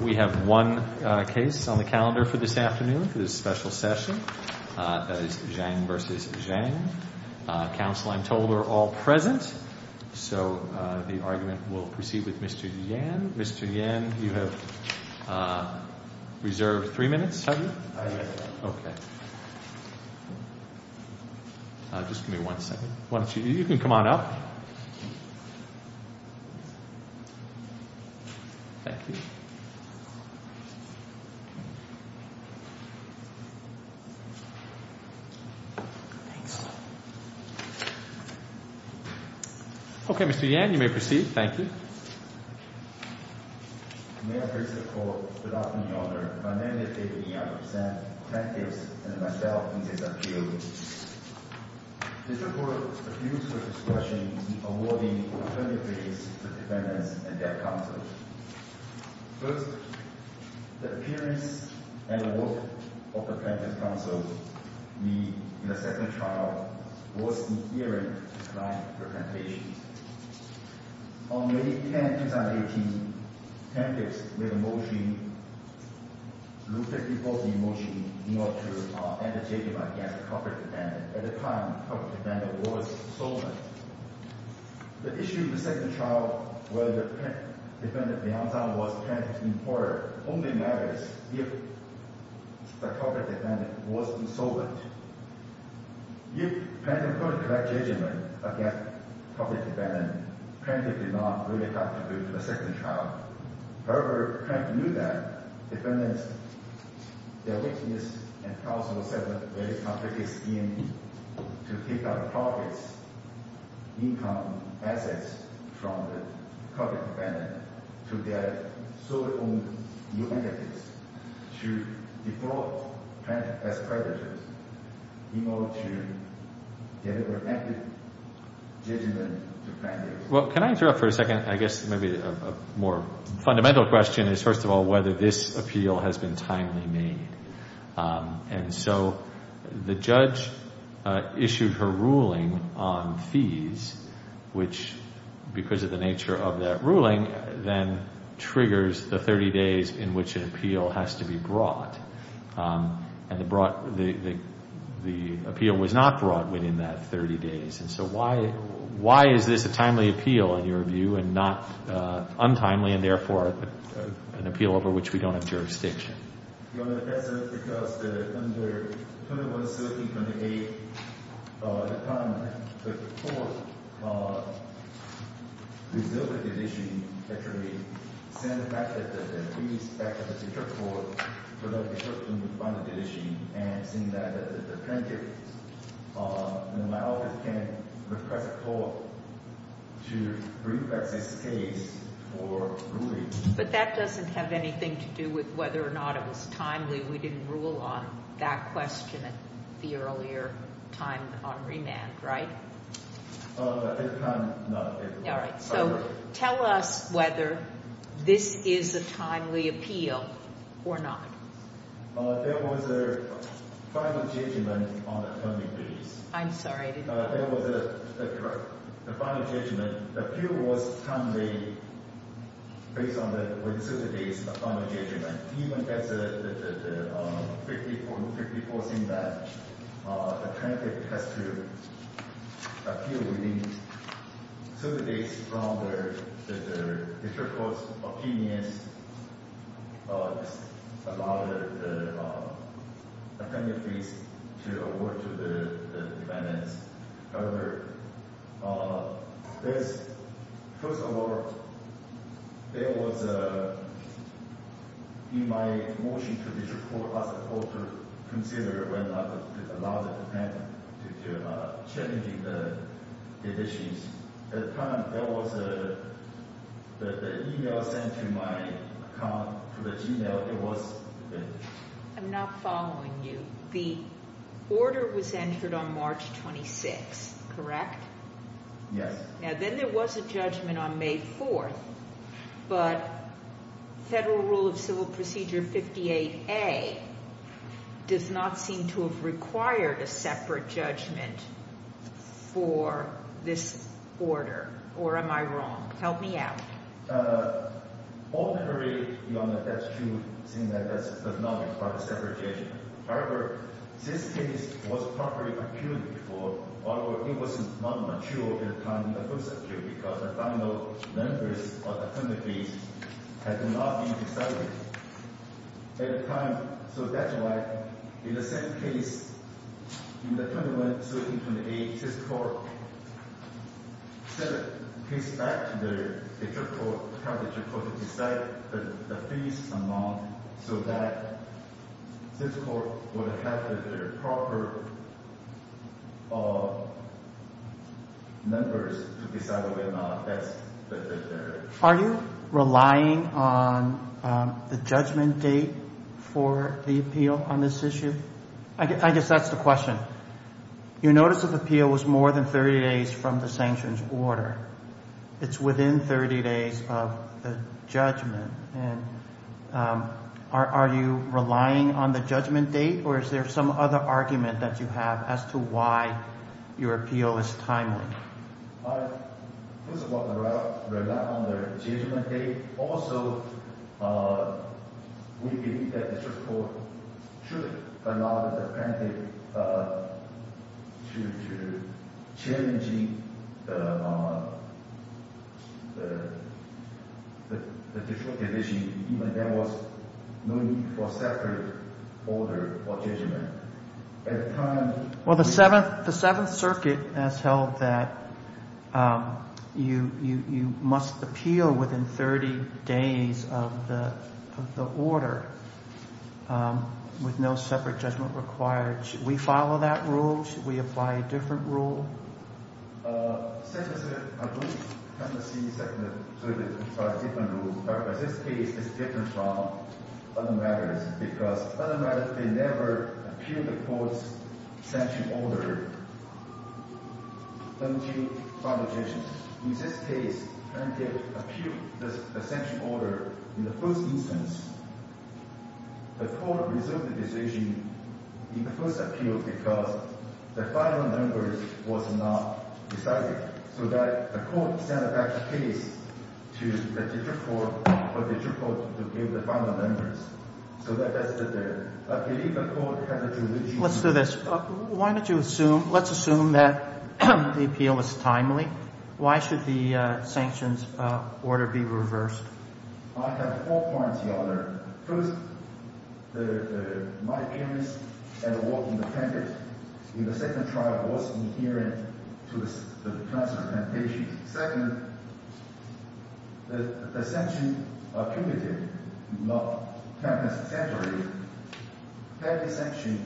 We have one case on the calendar for this afternoon for this special session. That is Zhang versus Zhang. Counsel, I'm told, are all present. So the argument will proceed with Mr. Yan. Mr. Yan, you have reserved three minutes, have you? I have. Okay. Just give me one second. Why don't you—you can come on up. Thank you. Thanks. Okay, Mr. Yan, you may proceed. Thank you. May I please report, without any honor, by name and date of the honor, present, plaintiffs, and myself in this appeal. This report appeals to the discretion in awarding alternative ways to defendants and their counsel. First, the appearance and the work of the plaintiff's counsel in the second trial was inherent to client representation. On May 10, 2018, plaintiffs made a motion, a Rule 54c motion, in order to end the judgment against the culprit defendant at the time the culprit defendant was insolvent. The issue in the second trial, whether the defendant, Beiyang Zhang, was plaintiff's employer, only matters if the culprit defendant was insolvent. If plaintiff could collect judgment against the culprit defendant, plaintiff did not really have to go to the second trial. However, the plaintiff knew that defendants, their witnesses, and counsel said that it was very complicated scheme to take out the culprit's income, assets, from the culprit defendant to get solely on the plaintiff's to defraud plaintiff as creditors in order to deliver active judgment to plaintiffs. Well, can I interrupt for a second? I guess maybe a more fundamental question is, first of all, whether this appeal has been timely made. And so the judge issued her ruling on fees, which, because of the nature of that ruling, then triggers the 30 days in which an appeal has to be brought. And the appeal was not brought within that 30 days. And so why is this a timely appeal, in your view, and not untimely and, therefore, an appeal over which we don't have jurisdiction? Your Honor, that's because under 21-17-28, the time that the court resolved this issue, actually sent back the fees back to the district court, so that the district court can refine the decision. And seeing that the plaintiff in my office can request a court to review that case for ruling. But that doesn't have anything to do with whether or not it was timely. We didn't rule on that question at the earlier time on remand, right? At the time, no. All right. So tell us whether this is a timely appeal or not. There was a final judgment on the timing fees. I'm sorry, I didn't hear you. There was a final judgment. The appeal was timely based on the 30 days of final judgment. Even as the district court's opinion allowed the timely fees to award to the defendants. First of all, there was, in my motion to the district court, I asked the court to consider whether or not to allow the defendant to challenge the conditions. At the time, there was an e-mail sent to my account, to the g-mail. I'm not following you. The order was entered on March 26th, correct? Yes. Now, then there was a judgment on May 4th. But Federal Rule of Civil Procedure 58A does not seem to have required a separate judgment for this order. Or am I wrong? Help me out. Ordinarily, that's true, saying that that does not require a separate judgment. However, this case was properly appealed before. Although it was not mature at the time in the first appeal because the final numbers of the timely fees had not been decided at the time. So that's why, in the same case, in the 21-13-28, this court sent a case back to the district court, the timely district court, to decide the fees amount so that this court would have the proper numbers to decide whether or not that's the case. Are you relying on the judgment date for the appeal on this issue? I guess that's the question. Your notice of appeal was more than 30 days from the sanctions order. It's within 30 days of the judgment. And are you relying on the judgment date, or is there some other argument that you have as to why your appeal is timely? First of all, I rely on the judgment date. Also, we believe that the district court should allow the plaintiff to change the district division even if there was no need for separate order or judgment. Well, the Seventh Circuit has held that you must appeal within 30 days of the order with no separate judgment required. Should we follow that rule? Should we apply a different rule? The Seventh Circuit has a different rule. In this case, it's different from other matters. Because other matters, they never appeal the court's sanctions order until final decision. In this case, the plaintiff appealed the sanctions order in the first instance. The court resolved the decision in the first appeal because the final number was not decided. So the court sent back the case to the district court for the district court to give the final numbers. So that's the deal. Let's do this. Why don't you assume – let's assume that the appeal is timely. Why should the sanctions order be reversed? I have four points in order. First, my appearance at the walking appendix in the second trial was inherent to the transparent application. Second, the sanctions are cumulative, not ten times a century. Ten sanctions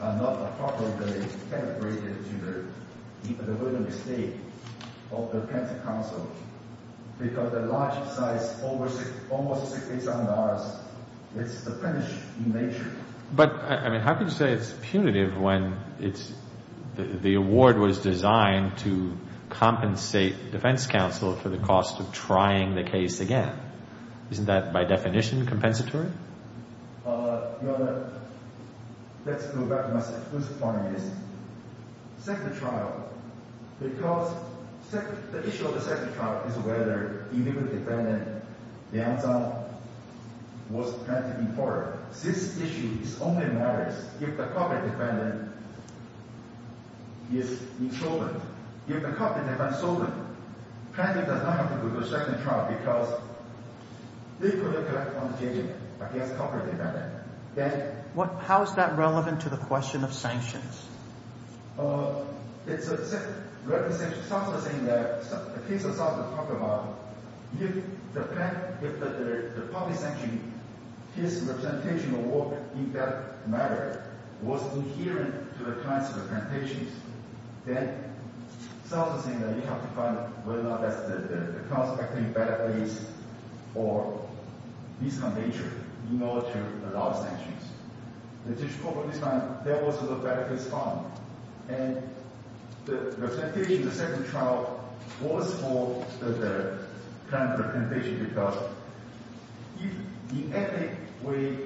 are not appropriately calibrated to the vulnerable state of the plaintiff's counsel. Because the large size, almost six to eight thousand dollars, it's diminished in nature. But, I mean, how can you say it's punitive when the award was designed to compensate defense counsel for the cost of trying the case again? Isn't that, by definition, compensatory? Let's go back to my second point. Second trial, because the issue of the second trial is whether the illegal defendant, Liang Zhang, was plaintiff in court. This issue only matters if the culprit defendant is insolvent. If the culprit defendant is insolvent, the plaintiff does not have to go to the second trial because they could have got a punitive against the culprit defendant. How is that relevant to the question of sanctions? It's a representation. The counsel is saying that, the case the counsel is talking about, if the public sanction, his representation of work in that matter, was inherent to the client's representations, then the counsel is saying that you have to find out whether or not the client is acting in a bad place or in a misconduct nature in order to allow sanctions. In this case, there was a bad case found. And the representation in the second trial was for the client's representation because if he acted in a way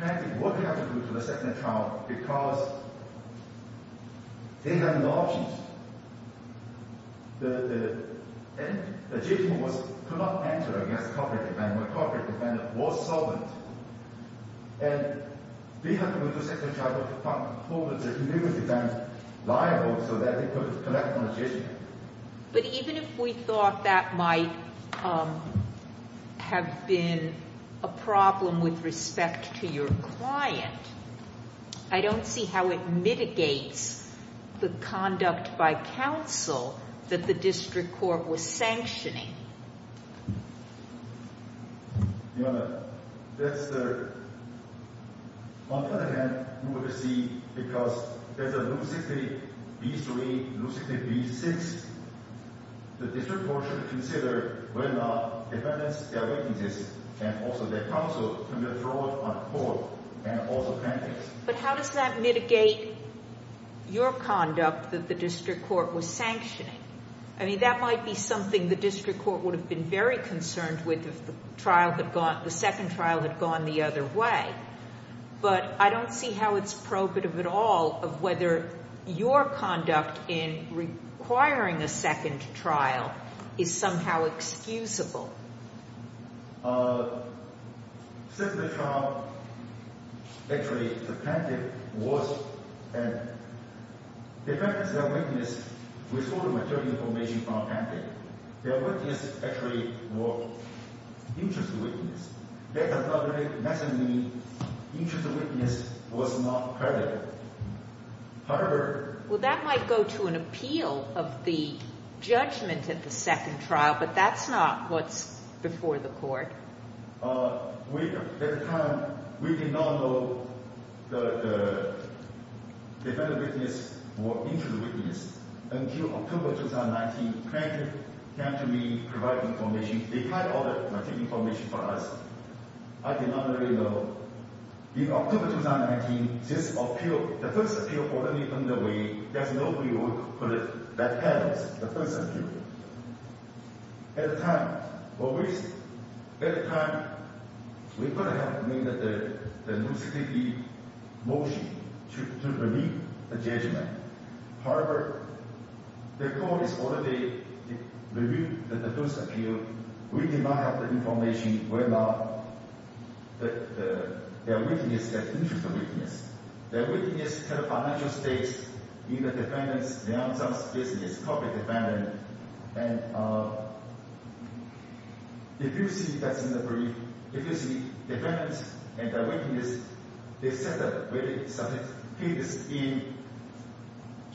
that the plaintiff would have to go to the second trial because they have no options, the judge could not enter against the culprit defendant when the culprit defendant was solvent. And we have to go to the second trial to find the culprit defendant liable so that they could collect on this issue. But even if we thought that might have been a problem with respect to your client, I don't see how it mitigates the conduct by counsel that the district court was sanctioning. On the other hand, we would see, because there's a Luke 60 B3, Luke 60 B6, the district court should consider whether or not defendants, their witnesses, and also their counsel can be brought on court and also plaintiffs. But how does that mitigate your conduct that the district court was sanctioning? I mean, that might be something the district court would have been very concerned with if the second trial had gone the other way. But I don't see how it's probative at all of whether your conduct in requiring a second trial is somehow excusable. Since the trial, actually, the plaintiff was a defendant. The defendants, their witnesses, with all the material information from the plaintiff, their witnesses actually were interest witnesses. That does not necessarily mean interest witness was not credited. However— Well, that might go to an appeal of the judgment at the second trial, but that's not what's before the court. At the time, we did not know the defendant witness or interest witness until October 2019. The plaintiff came to me providing information. They had all the material information for us. I did not really know. In October 2019, the first appeal was already underway. There was no way we could put it back on the first appeal. At the time, we could have made the new CTP motion to relieve the judgment. However, the court has already reviewed the first appeal. We did not have the information whether their witness had interest witness. Their witness had a financial stake in the defendant's business, corporate defendant. And if you see—that's in the brief. If you see defendants and their witnesses, they set up a very sophisticated scheme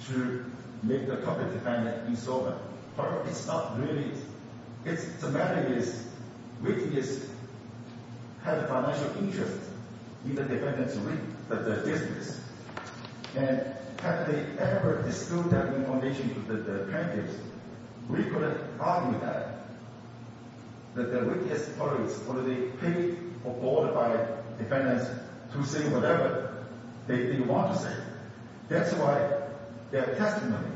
to make the corporate defendant insolvent. However, it's not really—the matter is witness had a financial interest in the defendant's business. And have they ever disclosed that information to the plaintiffs? We could have argued that. That the witness probably paid or bought by defendants to say whatever they want to say. That's why their testimony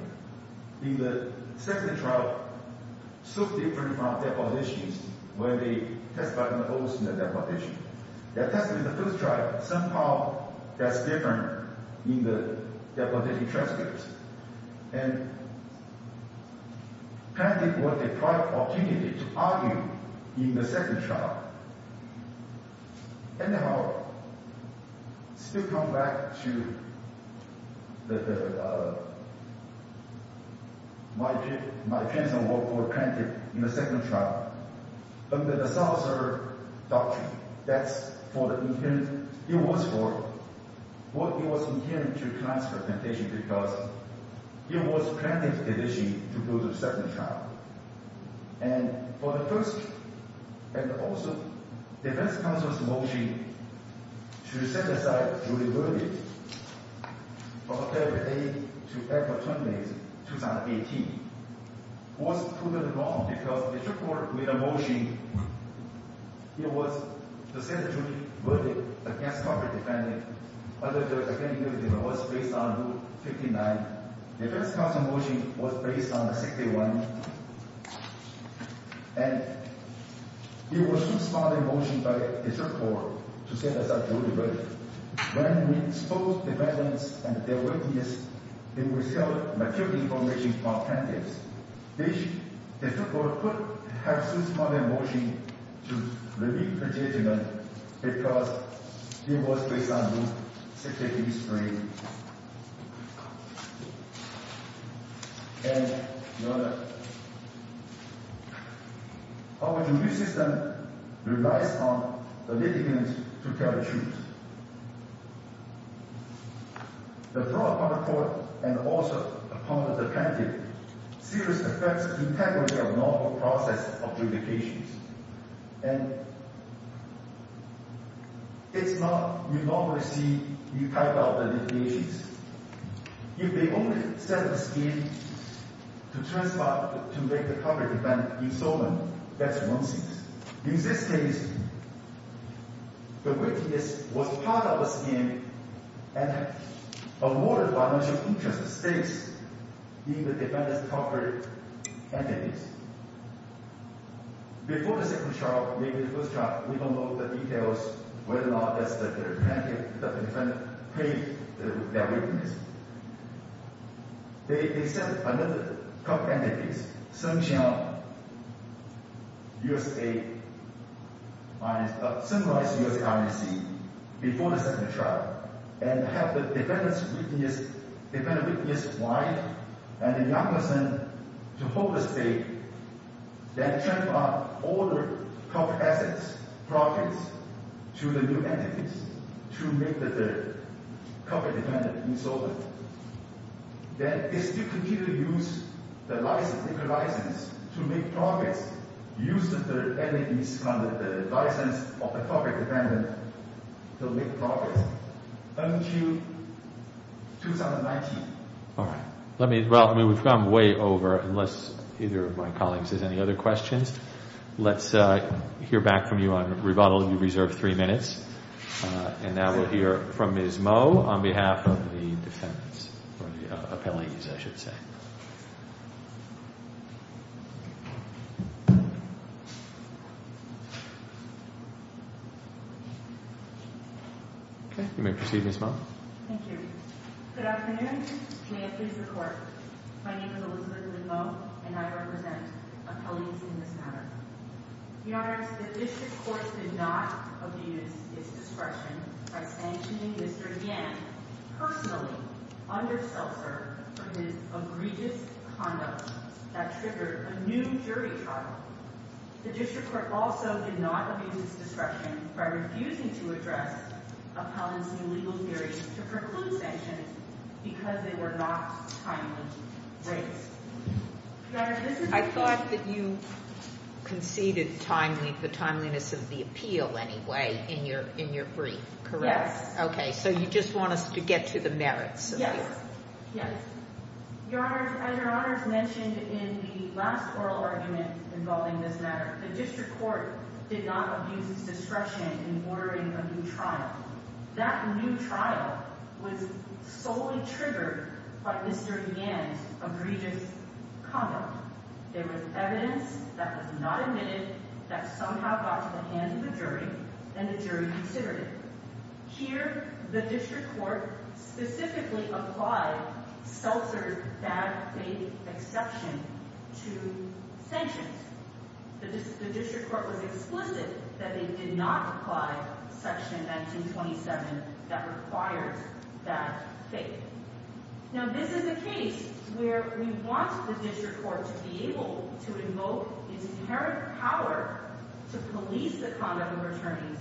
in the second trial was so different from their positions when they testified on the oath in the deputation. Their testimony in the first trial, somehow that's different in the deputation transcripts. And plaintiffs got a private opportunity to argue in the second trial. Anyhow, still come back to the—my opinion on what were the plaintiffs in the second trial. Under the Souser Doctrine, that's for the—it was for—it was intended to transfer temptation because it was plaintiff's decision to go to the second trial. And for the first—and also defense counsel's motion to set aside jury verdict of October 8 to April 20, 2018, was proven wrong because it took forward with a motion. It was to set a jury verdict against corporate defendant. Under the plaintiff, it was based on Rule 59. Defense counsel's motion was based on the 61. And it was too smart a motion by district court to set aside jury verdict. When we exposed defendants and their witnesses, they withheld material information from plaintiffs. District court could have too smart a motion to relieve the detainment because it was based on Rule 683. And your Honor, our jury system relies on the litigant to tell the truth. The draw upon the court and also upon the defendant seriously affects integrity of normal process of judications. And it's not—you normally see—you type out the litigations. If they only set a scheme to transfer—to make the corporate defendant insolvent, that's nonsense. In this case, the witness was part of a scheme and avoided violation of interest stakes in the defendant's corporate entities. Before the second trial, maybe the first trial, we don't know the details whether or not the defendant paid their witness. They sent another corporate entity, Sun Qiang, U.S.A. Sun Royce, U.S.A., R.N.C., before the second trial. And have the defendant's witness—defendant's witness wife and the young person to hold the stake. Then transfer all the corporate assets, properties, to the new entities to make the corporate defendant insolvent. Then they still continue to use the license, legal license, to make profits using the entities under the license of the corporate defendant to make profits until 2019. All right. Let me—well, I mean, we've gone way over unless either of my colleagues has any other questions. Let's hear back from you on rebuttal. You've reserved three minutes. And now we'll hear from Ms. Moe on behalf of the defendants—or the appellees, I should say. Okay. You may proceed, Ms. Moe. Thank you. Good afternoon. May it please the Court. My name is Elizabeth Lynn Moe, and I represent appellees in this matter. Your Honors, the district court did not abuse its discretion by sanctioning Mr. Yan personally under self-serve for his egregious conduct that triggered a new jury trial. The district court also did not abuse its discretion by refusing to address appellants' new legal theories to preclude sanctions because they were not timely raised. I thought that you conceded the timeliness of the appeal anyway in your brief, correct? Yes. Okay. So you just want us to get to the merits of the appeal. Yes. Yes. Your Honors, as Your Honors mentioned in the last oral argument involving this matter, the district court did not abuse its discretion in ordering a new trial. That new trial was solely triggered by Mr. Yan's egregious conduct. There was evidence that was not admitted that somehow got to the hands of the jury, and the jury considered it. Here, the district court specifically applied self-serve's bad faith exception to sanctions. The district court was explicit that it did not apply Section 1927 that required bad faith. Now, this is a case where we want the district court to be able to invoke its inherent power to police the conduct of attorneys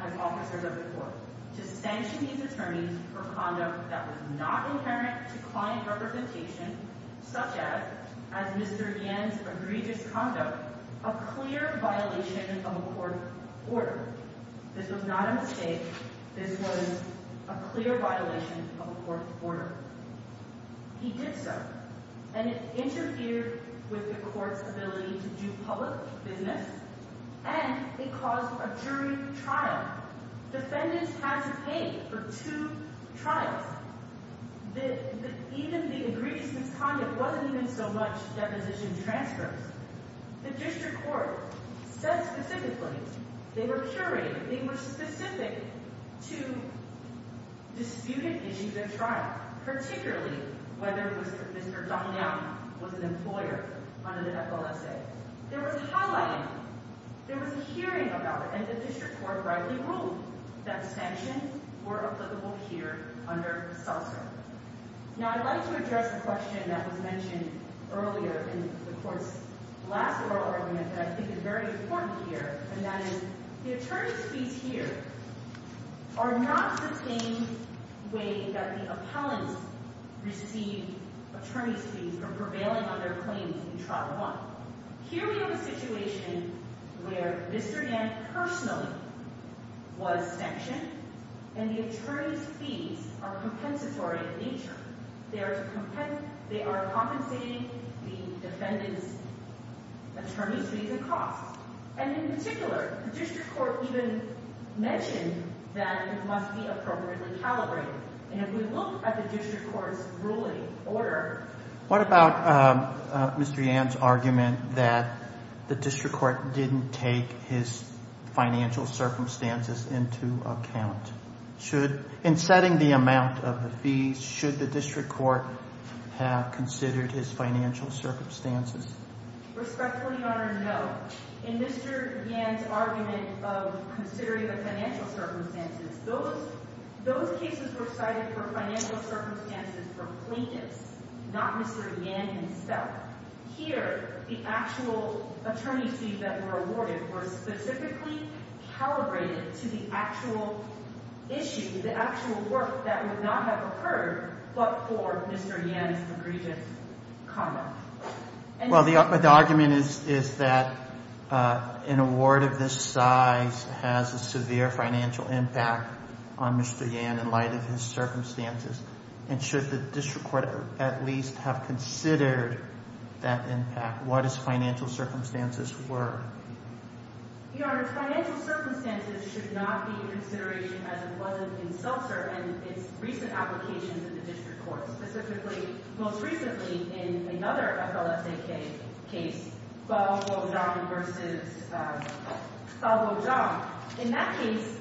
as officers of the court, to sanction these attorneys for conduct that was not inherent to client representation, such as Mr. Yan's egregious conduct, a clear violation of a court order. This was not a mistake. This was a clear violation of a court order. He did so, and it interfered with the court's ability to do public business, and it caused a jury trial. Defendants had to pay for two trials. Even the egregiousness conduct wasn't even so much deposition transfers. The district court said specifically they were curating, they were specific to disputed issues at trial, particularly whether Mr. Yan was an employer under the FLSA. There was highlighting, there was a hearing about it, and the district court rightly ruled that sanctions were applicable here under self-serve. Now, I'd like to address the question that was mentioned earlier in the court's last oral argument that I think is very important here, and that is the attorney's fees here are not the same way that the appellants receive attorney's fees for prevailing on their claims in Trial 1. Here we have a situation where Mr. Yan personally was sanctioned, and the attorney's fees are compensatory in nature. They are compensating the defendant's attorney's fees and costs. And in particular, the district court even mentioned that it must be appropriately calibrated. And if we look at the district court's ruling order. What about Mr. Yan's argument that the district court didn't take his financial circumstances into account? In setting the amount of the fees, should the district court have considered his financial circumstances? Respectfully, Your Honor, no. In Mr. Yan's argument of considering the financial circumstances, those cases were cited for financial circumstances for plaintiffs, not Mr. Yan himself. Here, the actual attorney's fees that were awarded were specifically calibrated to the actual issue, the actual work that would not have occurred but for Mr. Yan's egregious conduct. Well, the argument is that an award of this size has a severe financial impact on Mr. Yan in light of his circumstances. And should the district court at least have considered that impact? What his financial circumstances were? Your Honor, his financial circumstances should not be in consideration as it was in Seltzer and its recent applications in the district court. Specifically, most recently, in another FLSAK case, Falbo Zhang versus Falbo Zhang. In that case,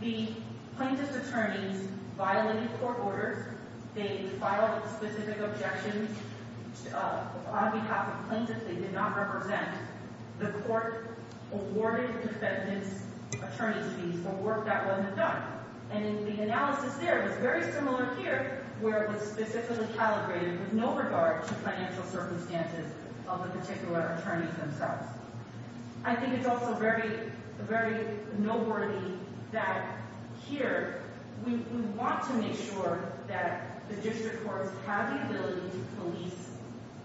the plaintiff's attorneys violated court orders. They filed specific objections on behalf of plaintiffs they did not represent. The court awarded the defendant's attorney's fees for work that wasn't done. And the analysis there was very similar here where it was specifically calibrated with no regard to financial circumstances of the particular attorneys themselves. I think it's also very noteworthy that here we want to make sure that the district courts have the ability to police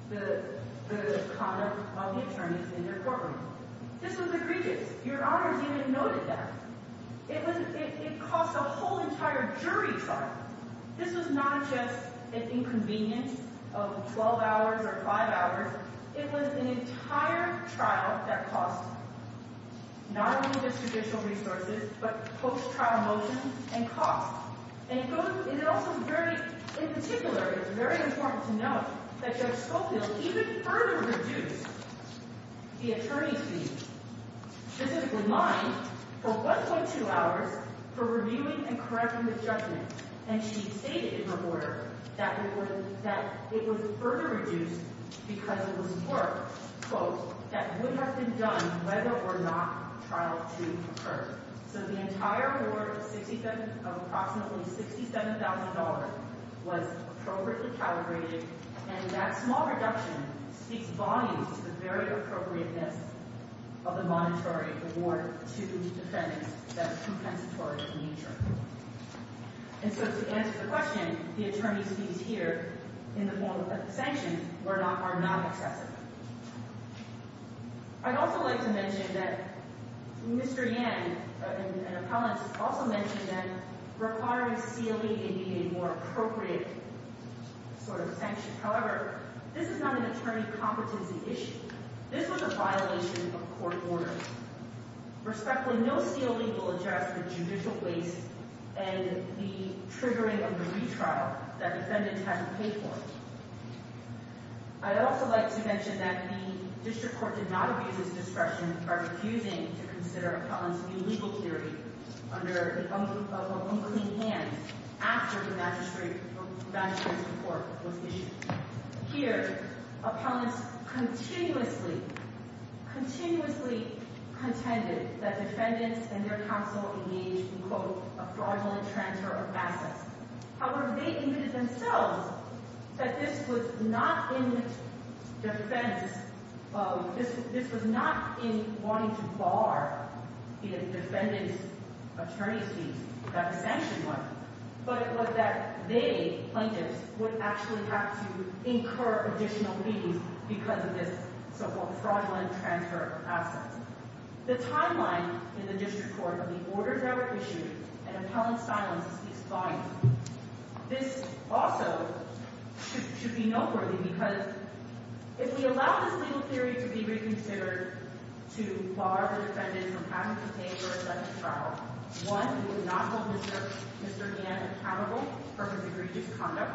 the conduct of the attorneys in their courtroom. This was egregious. Your Honor has even noted that. It cost a whole entire jury trial. This was not just an inconvenience of 12 hours or 5 hours. It was an entire trial that cost not only the judicial resources but post-trial motions and costs. In particular, it's very important to note that Judge Schofield even further reduced the attorney's fees. This is the line for 1.2 hours for reviewing and correcting the judgment. And she stated in her order that it was further reduced because it was work, quote, that would have been done whether or not trial 2 occurred. So the entire award of approximately $67,000 was appropriately calibrated. And that small reduction speaks volumes to the very appropriateness of the monetary award to defendants that is compensatory in nature. And so to answer the question, the attorney's fees here in the form of sanctions are not excessive. I'd also like to mention that Mr. Yan, an appellant, also mentioned that requiring CLE to be a more appropriate sort of sanction. However, this is not an attorney competency issue. This was a violation of court orders. Respectfully, no CLE will address the judicial waste and the triggering of the retrial that defendants had to pay for. I'd also like to mention that the district court did not abuse its discretion by refusing to consider appellants' new legal theory under the umbrella of unclean hands after the magistrate's report was issued. Here, appellants continuously contended that defendants and their counsel engaged in, quote, a fraudulent transfer of assets. However, they admitted themselves that this was not in wanting to bar defendants' attorney's fees that the sanctions were, but it was that they, plaintiffs, would actually have to incur additional fees because of this so-called fraudulent transfer of assets. The timeline in the district court of the orders that were issued and appellant's silence speaks volumes. This also should be noteworthy because if we allow this legal theory to be reconsidered to bar the defendant from having to pay for a second trial, one, it would not hold Mr. Yan accountable for his egregious conduct,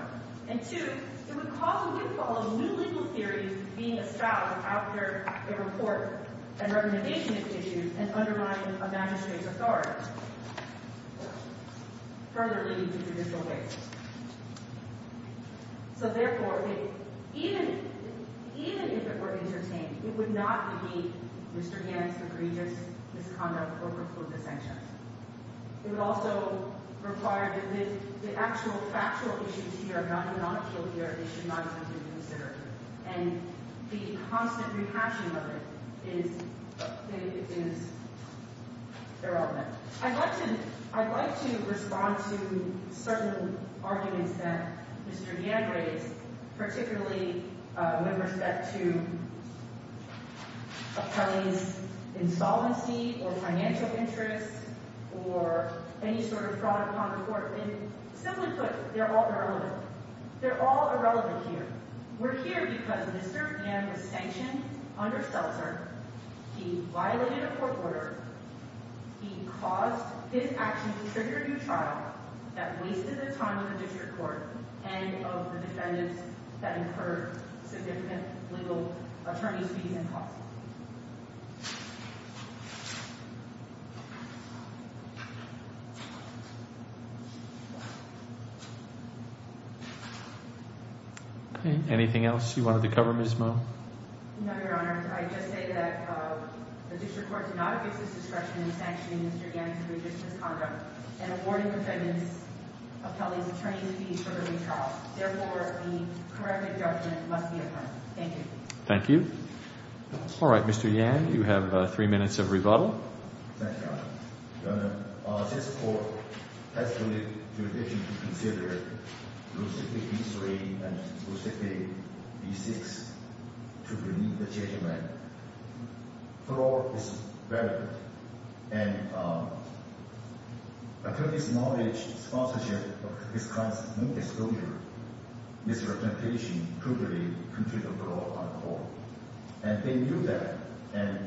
and two, it would cause a windfall of new legal theories being espoused after a report and recommendation is issued and undermining a magistrate's authority, further leading to judicial waste. So therefore, even if it were entertained, it would not be Mr. Yan's egregious misconduct or preclude the sanctions. It would also require that the actual factual issues here are not to be non-appealed here. They should not be reconsidered. And the constant rehashing of it is irrelevant. I'd like to respond to certain arguments that Mr. Yan raised, particularly when we're set to appellee's insolvency or financial interests or any sort of fraud upon the court. Simply put, they're all irrelevant. They're all irrelevant here. We're here because Mr. Yan was sanctioned under Seltzer. He violated a court order. He caused his actions to trigger a new trial that wasted the time of the district court and of the defendants that incurred significant legal attorney's fees and costs. Anything else you wanted to cover, Ms. Moe? No, Your Honor. I just say that the district court did not abuse its discretion in sanctioning Mr. Yan's egregious misconduct and awarding the defendants appellees attorney's fees for the new trial. Therefore, the corrective judgment must be applied. Thank you. Thank you. All right, Mr. Yan, you have three minutes of rebuttal. The court is irrelevant. And attorney's knowledge, sponsorship of his clients, no disclosure, misrepresentation, crudely contributed to the law on the court. And they knew that. And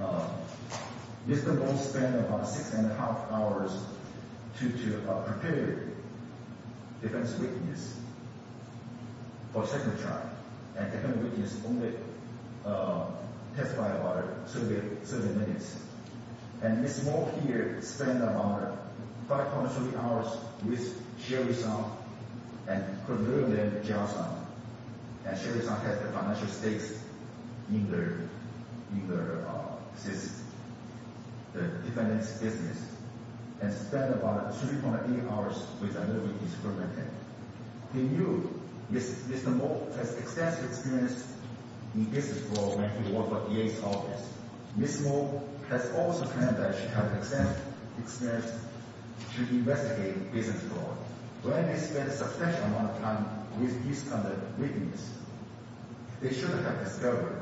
Mr. Moe spent about six and a half hours to prepare defense witness for the second trial. And the second witness only testified about 30 minutes. And Ms. Moe here spent about 5.3 hours with Sherry Sun and converted them to jail time. And Sherry Sun had the financial stakes in the defendant's business and spent about 3.8 hours with another witness preventing. They knew Mr. Moe has extensive experience in business law when he worked for DA's office. Ms. Moe has also claimed that she has extensive experience to investigate business law. Therefore, when they spent a substantial amount of time with these other witnesses, they should have discovered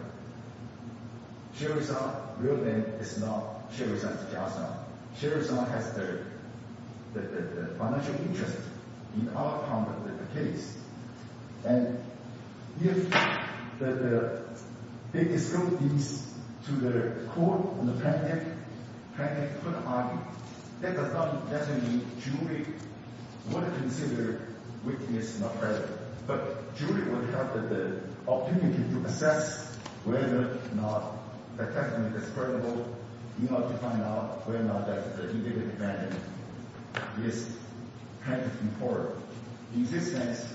Sherry Sun willed them to jail time. Sherry Sun has the financial interest in our part of the case. And if they disclosed this to the court and the plaintiff, plaintiff could argue that does not mean jury would consider witness not credible. But jury would have the opportunity to assess whether or not the testimony is credible in order to find out whether or not the individual defendant is plaintiff in court. In this sense,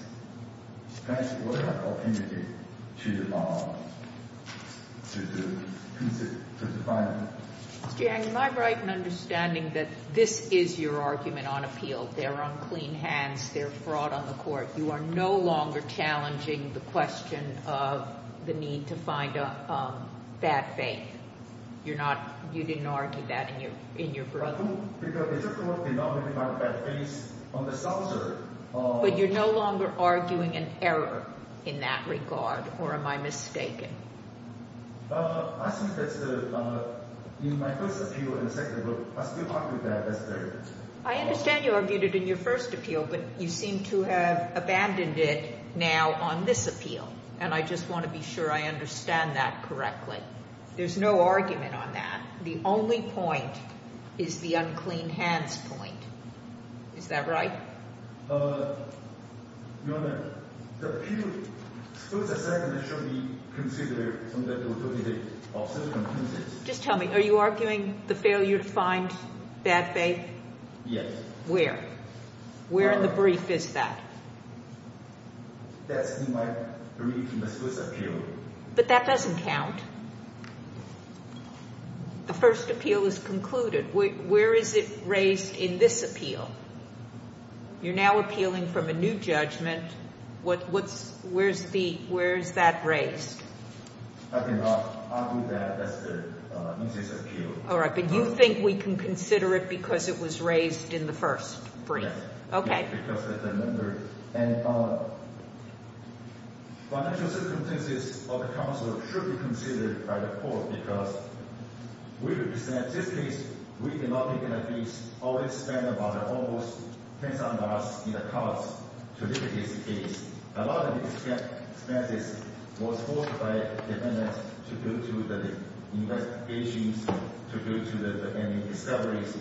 plaintiff would have the opportunity to find out. Ms. Jiang, am I right in understanding that this is your argument on appeal? They're on clean hands. They're fraud on the court. You are no longer challenging the question of the need to find a bad faith. You're not – you didn't argue that in your – in your brother? But you're no longer arguing an error in that regard, or am I mistaken? I understand you argued it in your first appeal, but you seem to have abandoned it now on this appeal. And I just want to be sure I understand that correctly. There's no argument on that. The only point is the unclean hands point. Is that right? Just tell me, are you arguing the failure to find bad faith? Yes. Where? Where in the brief is that? But that doesn't count. The first appeal is concluded. Where is it raised in this appeal? You're now appealing from a new judgment. What's – where's the – where is that raised? All right, but you think we can consider it because it was raised in the first brief. Okay. We represent – in this case, we did not make an appease. All we spent about almost $10,000 in the courts to look at this case. A lot of expenses was forced by defendants to go to the investigations, to go to the – and discoveries.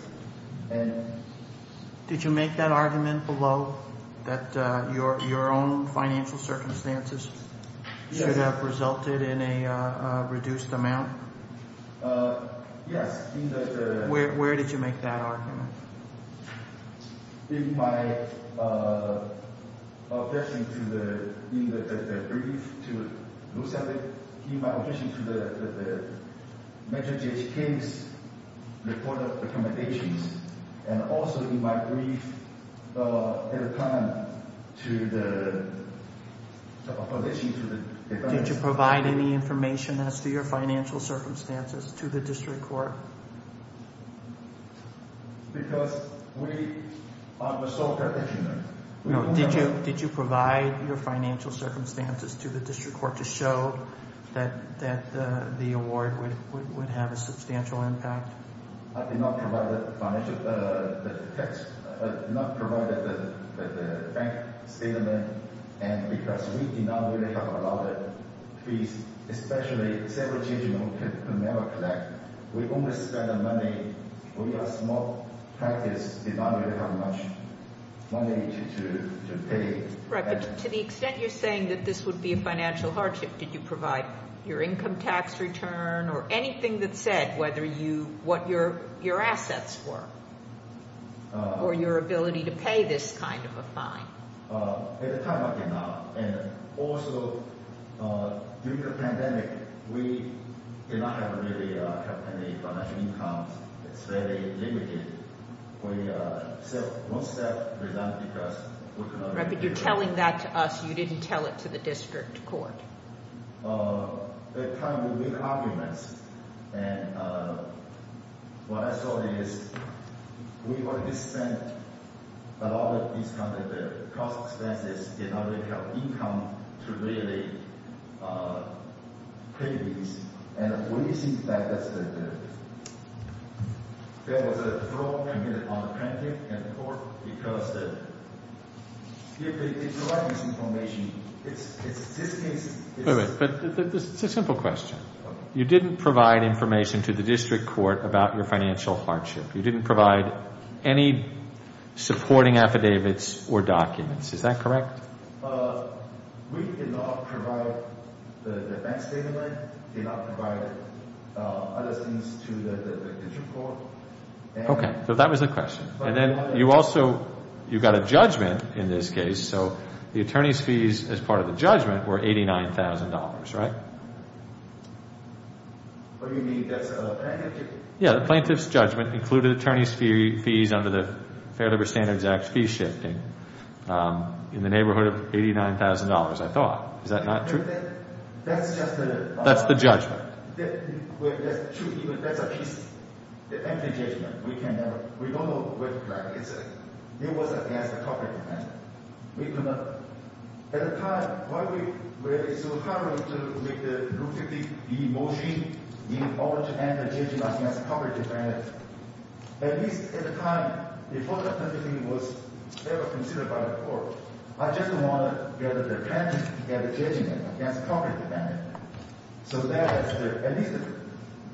Did you make that argument below that your own financial circumstances should have resulted in a reduced amount? Yes. Where did you make that argument? In my objection to the – in the brief to – in my objection to the – mentioned J.H. King's report of recommendations and also in my brief at a time to the opposition to the defendants. Did you provide any information as to your financial circumstances to the district court? Because we are the sole protection. No. Did you provide your financial circumstances to the district court to show that the award would have a substantial impact? I did not provide the financial – I did not provide the bank statement. And because we did not really have a lot of fees, especially several children who could never collect, we only spent money. We are a small practice. We don't really have much money to pay. Right. But to the extent you're saying that this would be a financial hardship, did you provide your income tax return or anything that said whether you – what your assets were or your ability to pay this kind of a fine? At the time, I did not. And also, due to the pandemic, we did not have really – have any financial income. It's very limited. We – so most of that was done because – Right. But you're telling that to us. You didn't tell it to the district court. At the time, we made arguments. And what I saw is we were – we spent a lot of these kinds of cost expenses in order to have income to really pay these. And the reason that that's the – there was a throw on the pandemic and the court because the – if you like this information, it's – this case is – Wait a minute. It's a simple question. You didn't provide information to the district court about your financial hardship. You didn't provide any supporting affidavits or documents. Is that correct? Okay. So that was the question. And then you also – you got a judgment in this case. So the attorney's fees as part of the judgment were $89,000, right? What do you mean? That's a plaintiff's judgment. Yeah, the plaintiff's judgment included attorney's fees under the Fair Labor Standards Act fee shifting in the neighborhood of $89,000, I thought. Is that not true? That's just the – That's the judgment. That's true. That's a piece. The empty judgment. We can never – we don't know where to drag it. It was against the corporate convention. We do not – at the time, why we – where it's so hard to make the rule 50B motion in order to end the judgment against corporate defendants. At least at the time before the judgment was ever considered by the court, I just want to get the plaintiff to get a judgment against corporate defendants. So that at least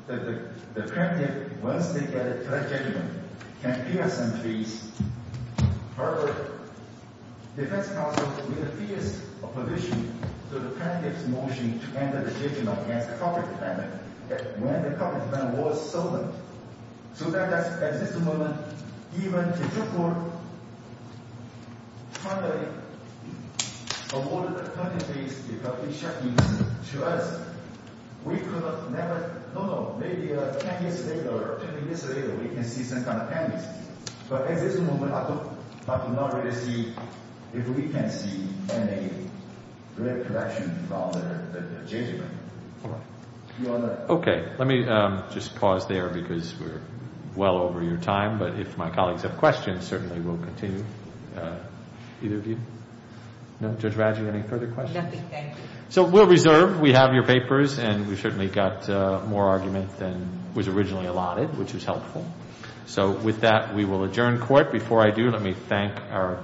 the plaintiff, once they get a judgment, can clear some fees. However, defense counsel made a fierce opposition to the plaintiff's motion to end the judgment against corporate defendants when the corporate defendant was solemn. So that at this moment, even if the court tried to avoid the cutting fees because it's shifting to us, we could have never – no, no. Maybe 10 years later or 20 years later, we can see some kind of payments. But at this moment, I do not really see if we can see any real correction from the judgment. Okay. Let me just pause there because we're well over your time. But if my colleagues have questions, certainly we'll continue. Either of you? No? Judge Radjou, any further questions? Nothing. Thank you. So we'll reserve. We have your papers, and we certainly got more argument than was originally allotted, which was helpful. So with that, we will adjourn court. Before I do, let me thank our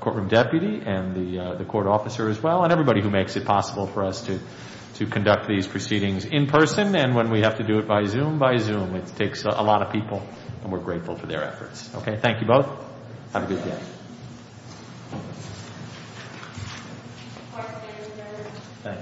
courtroom deputy and the court officer as well and everybody who makes it possible for us to conduct these proceedings in person. And when we have to do it by Zoom, by Zoom. It takes a lot of people, and we're grateful for their efforts. Okay. Thank you both. Have a good day.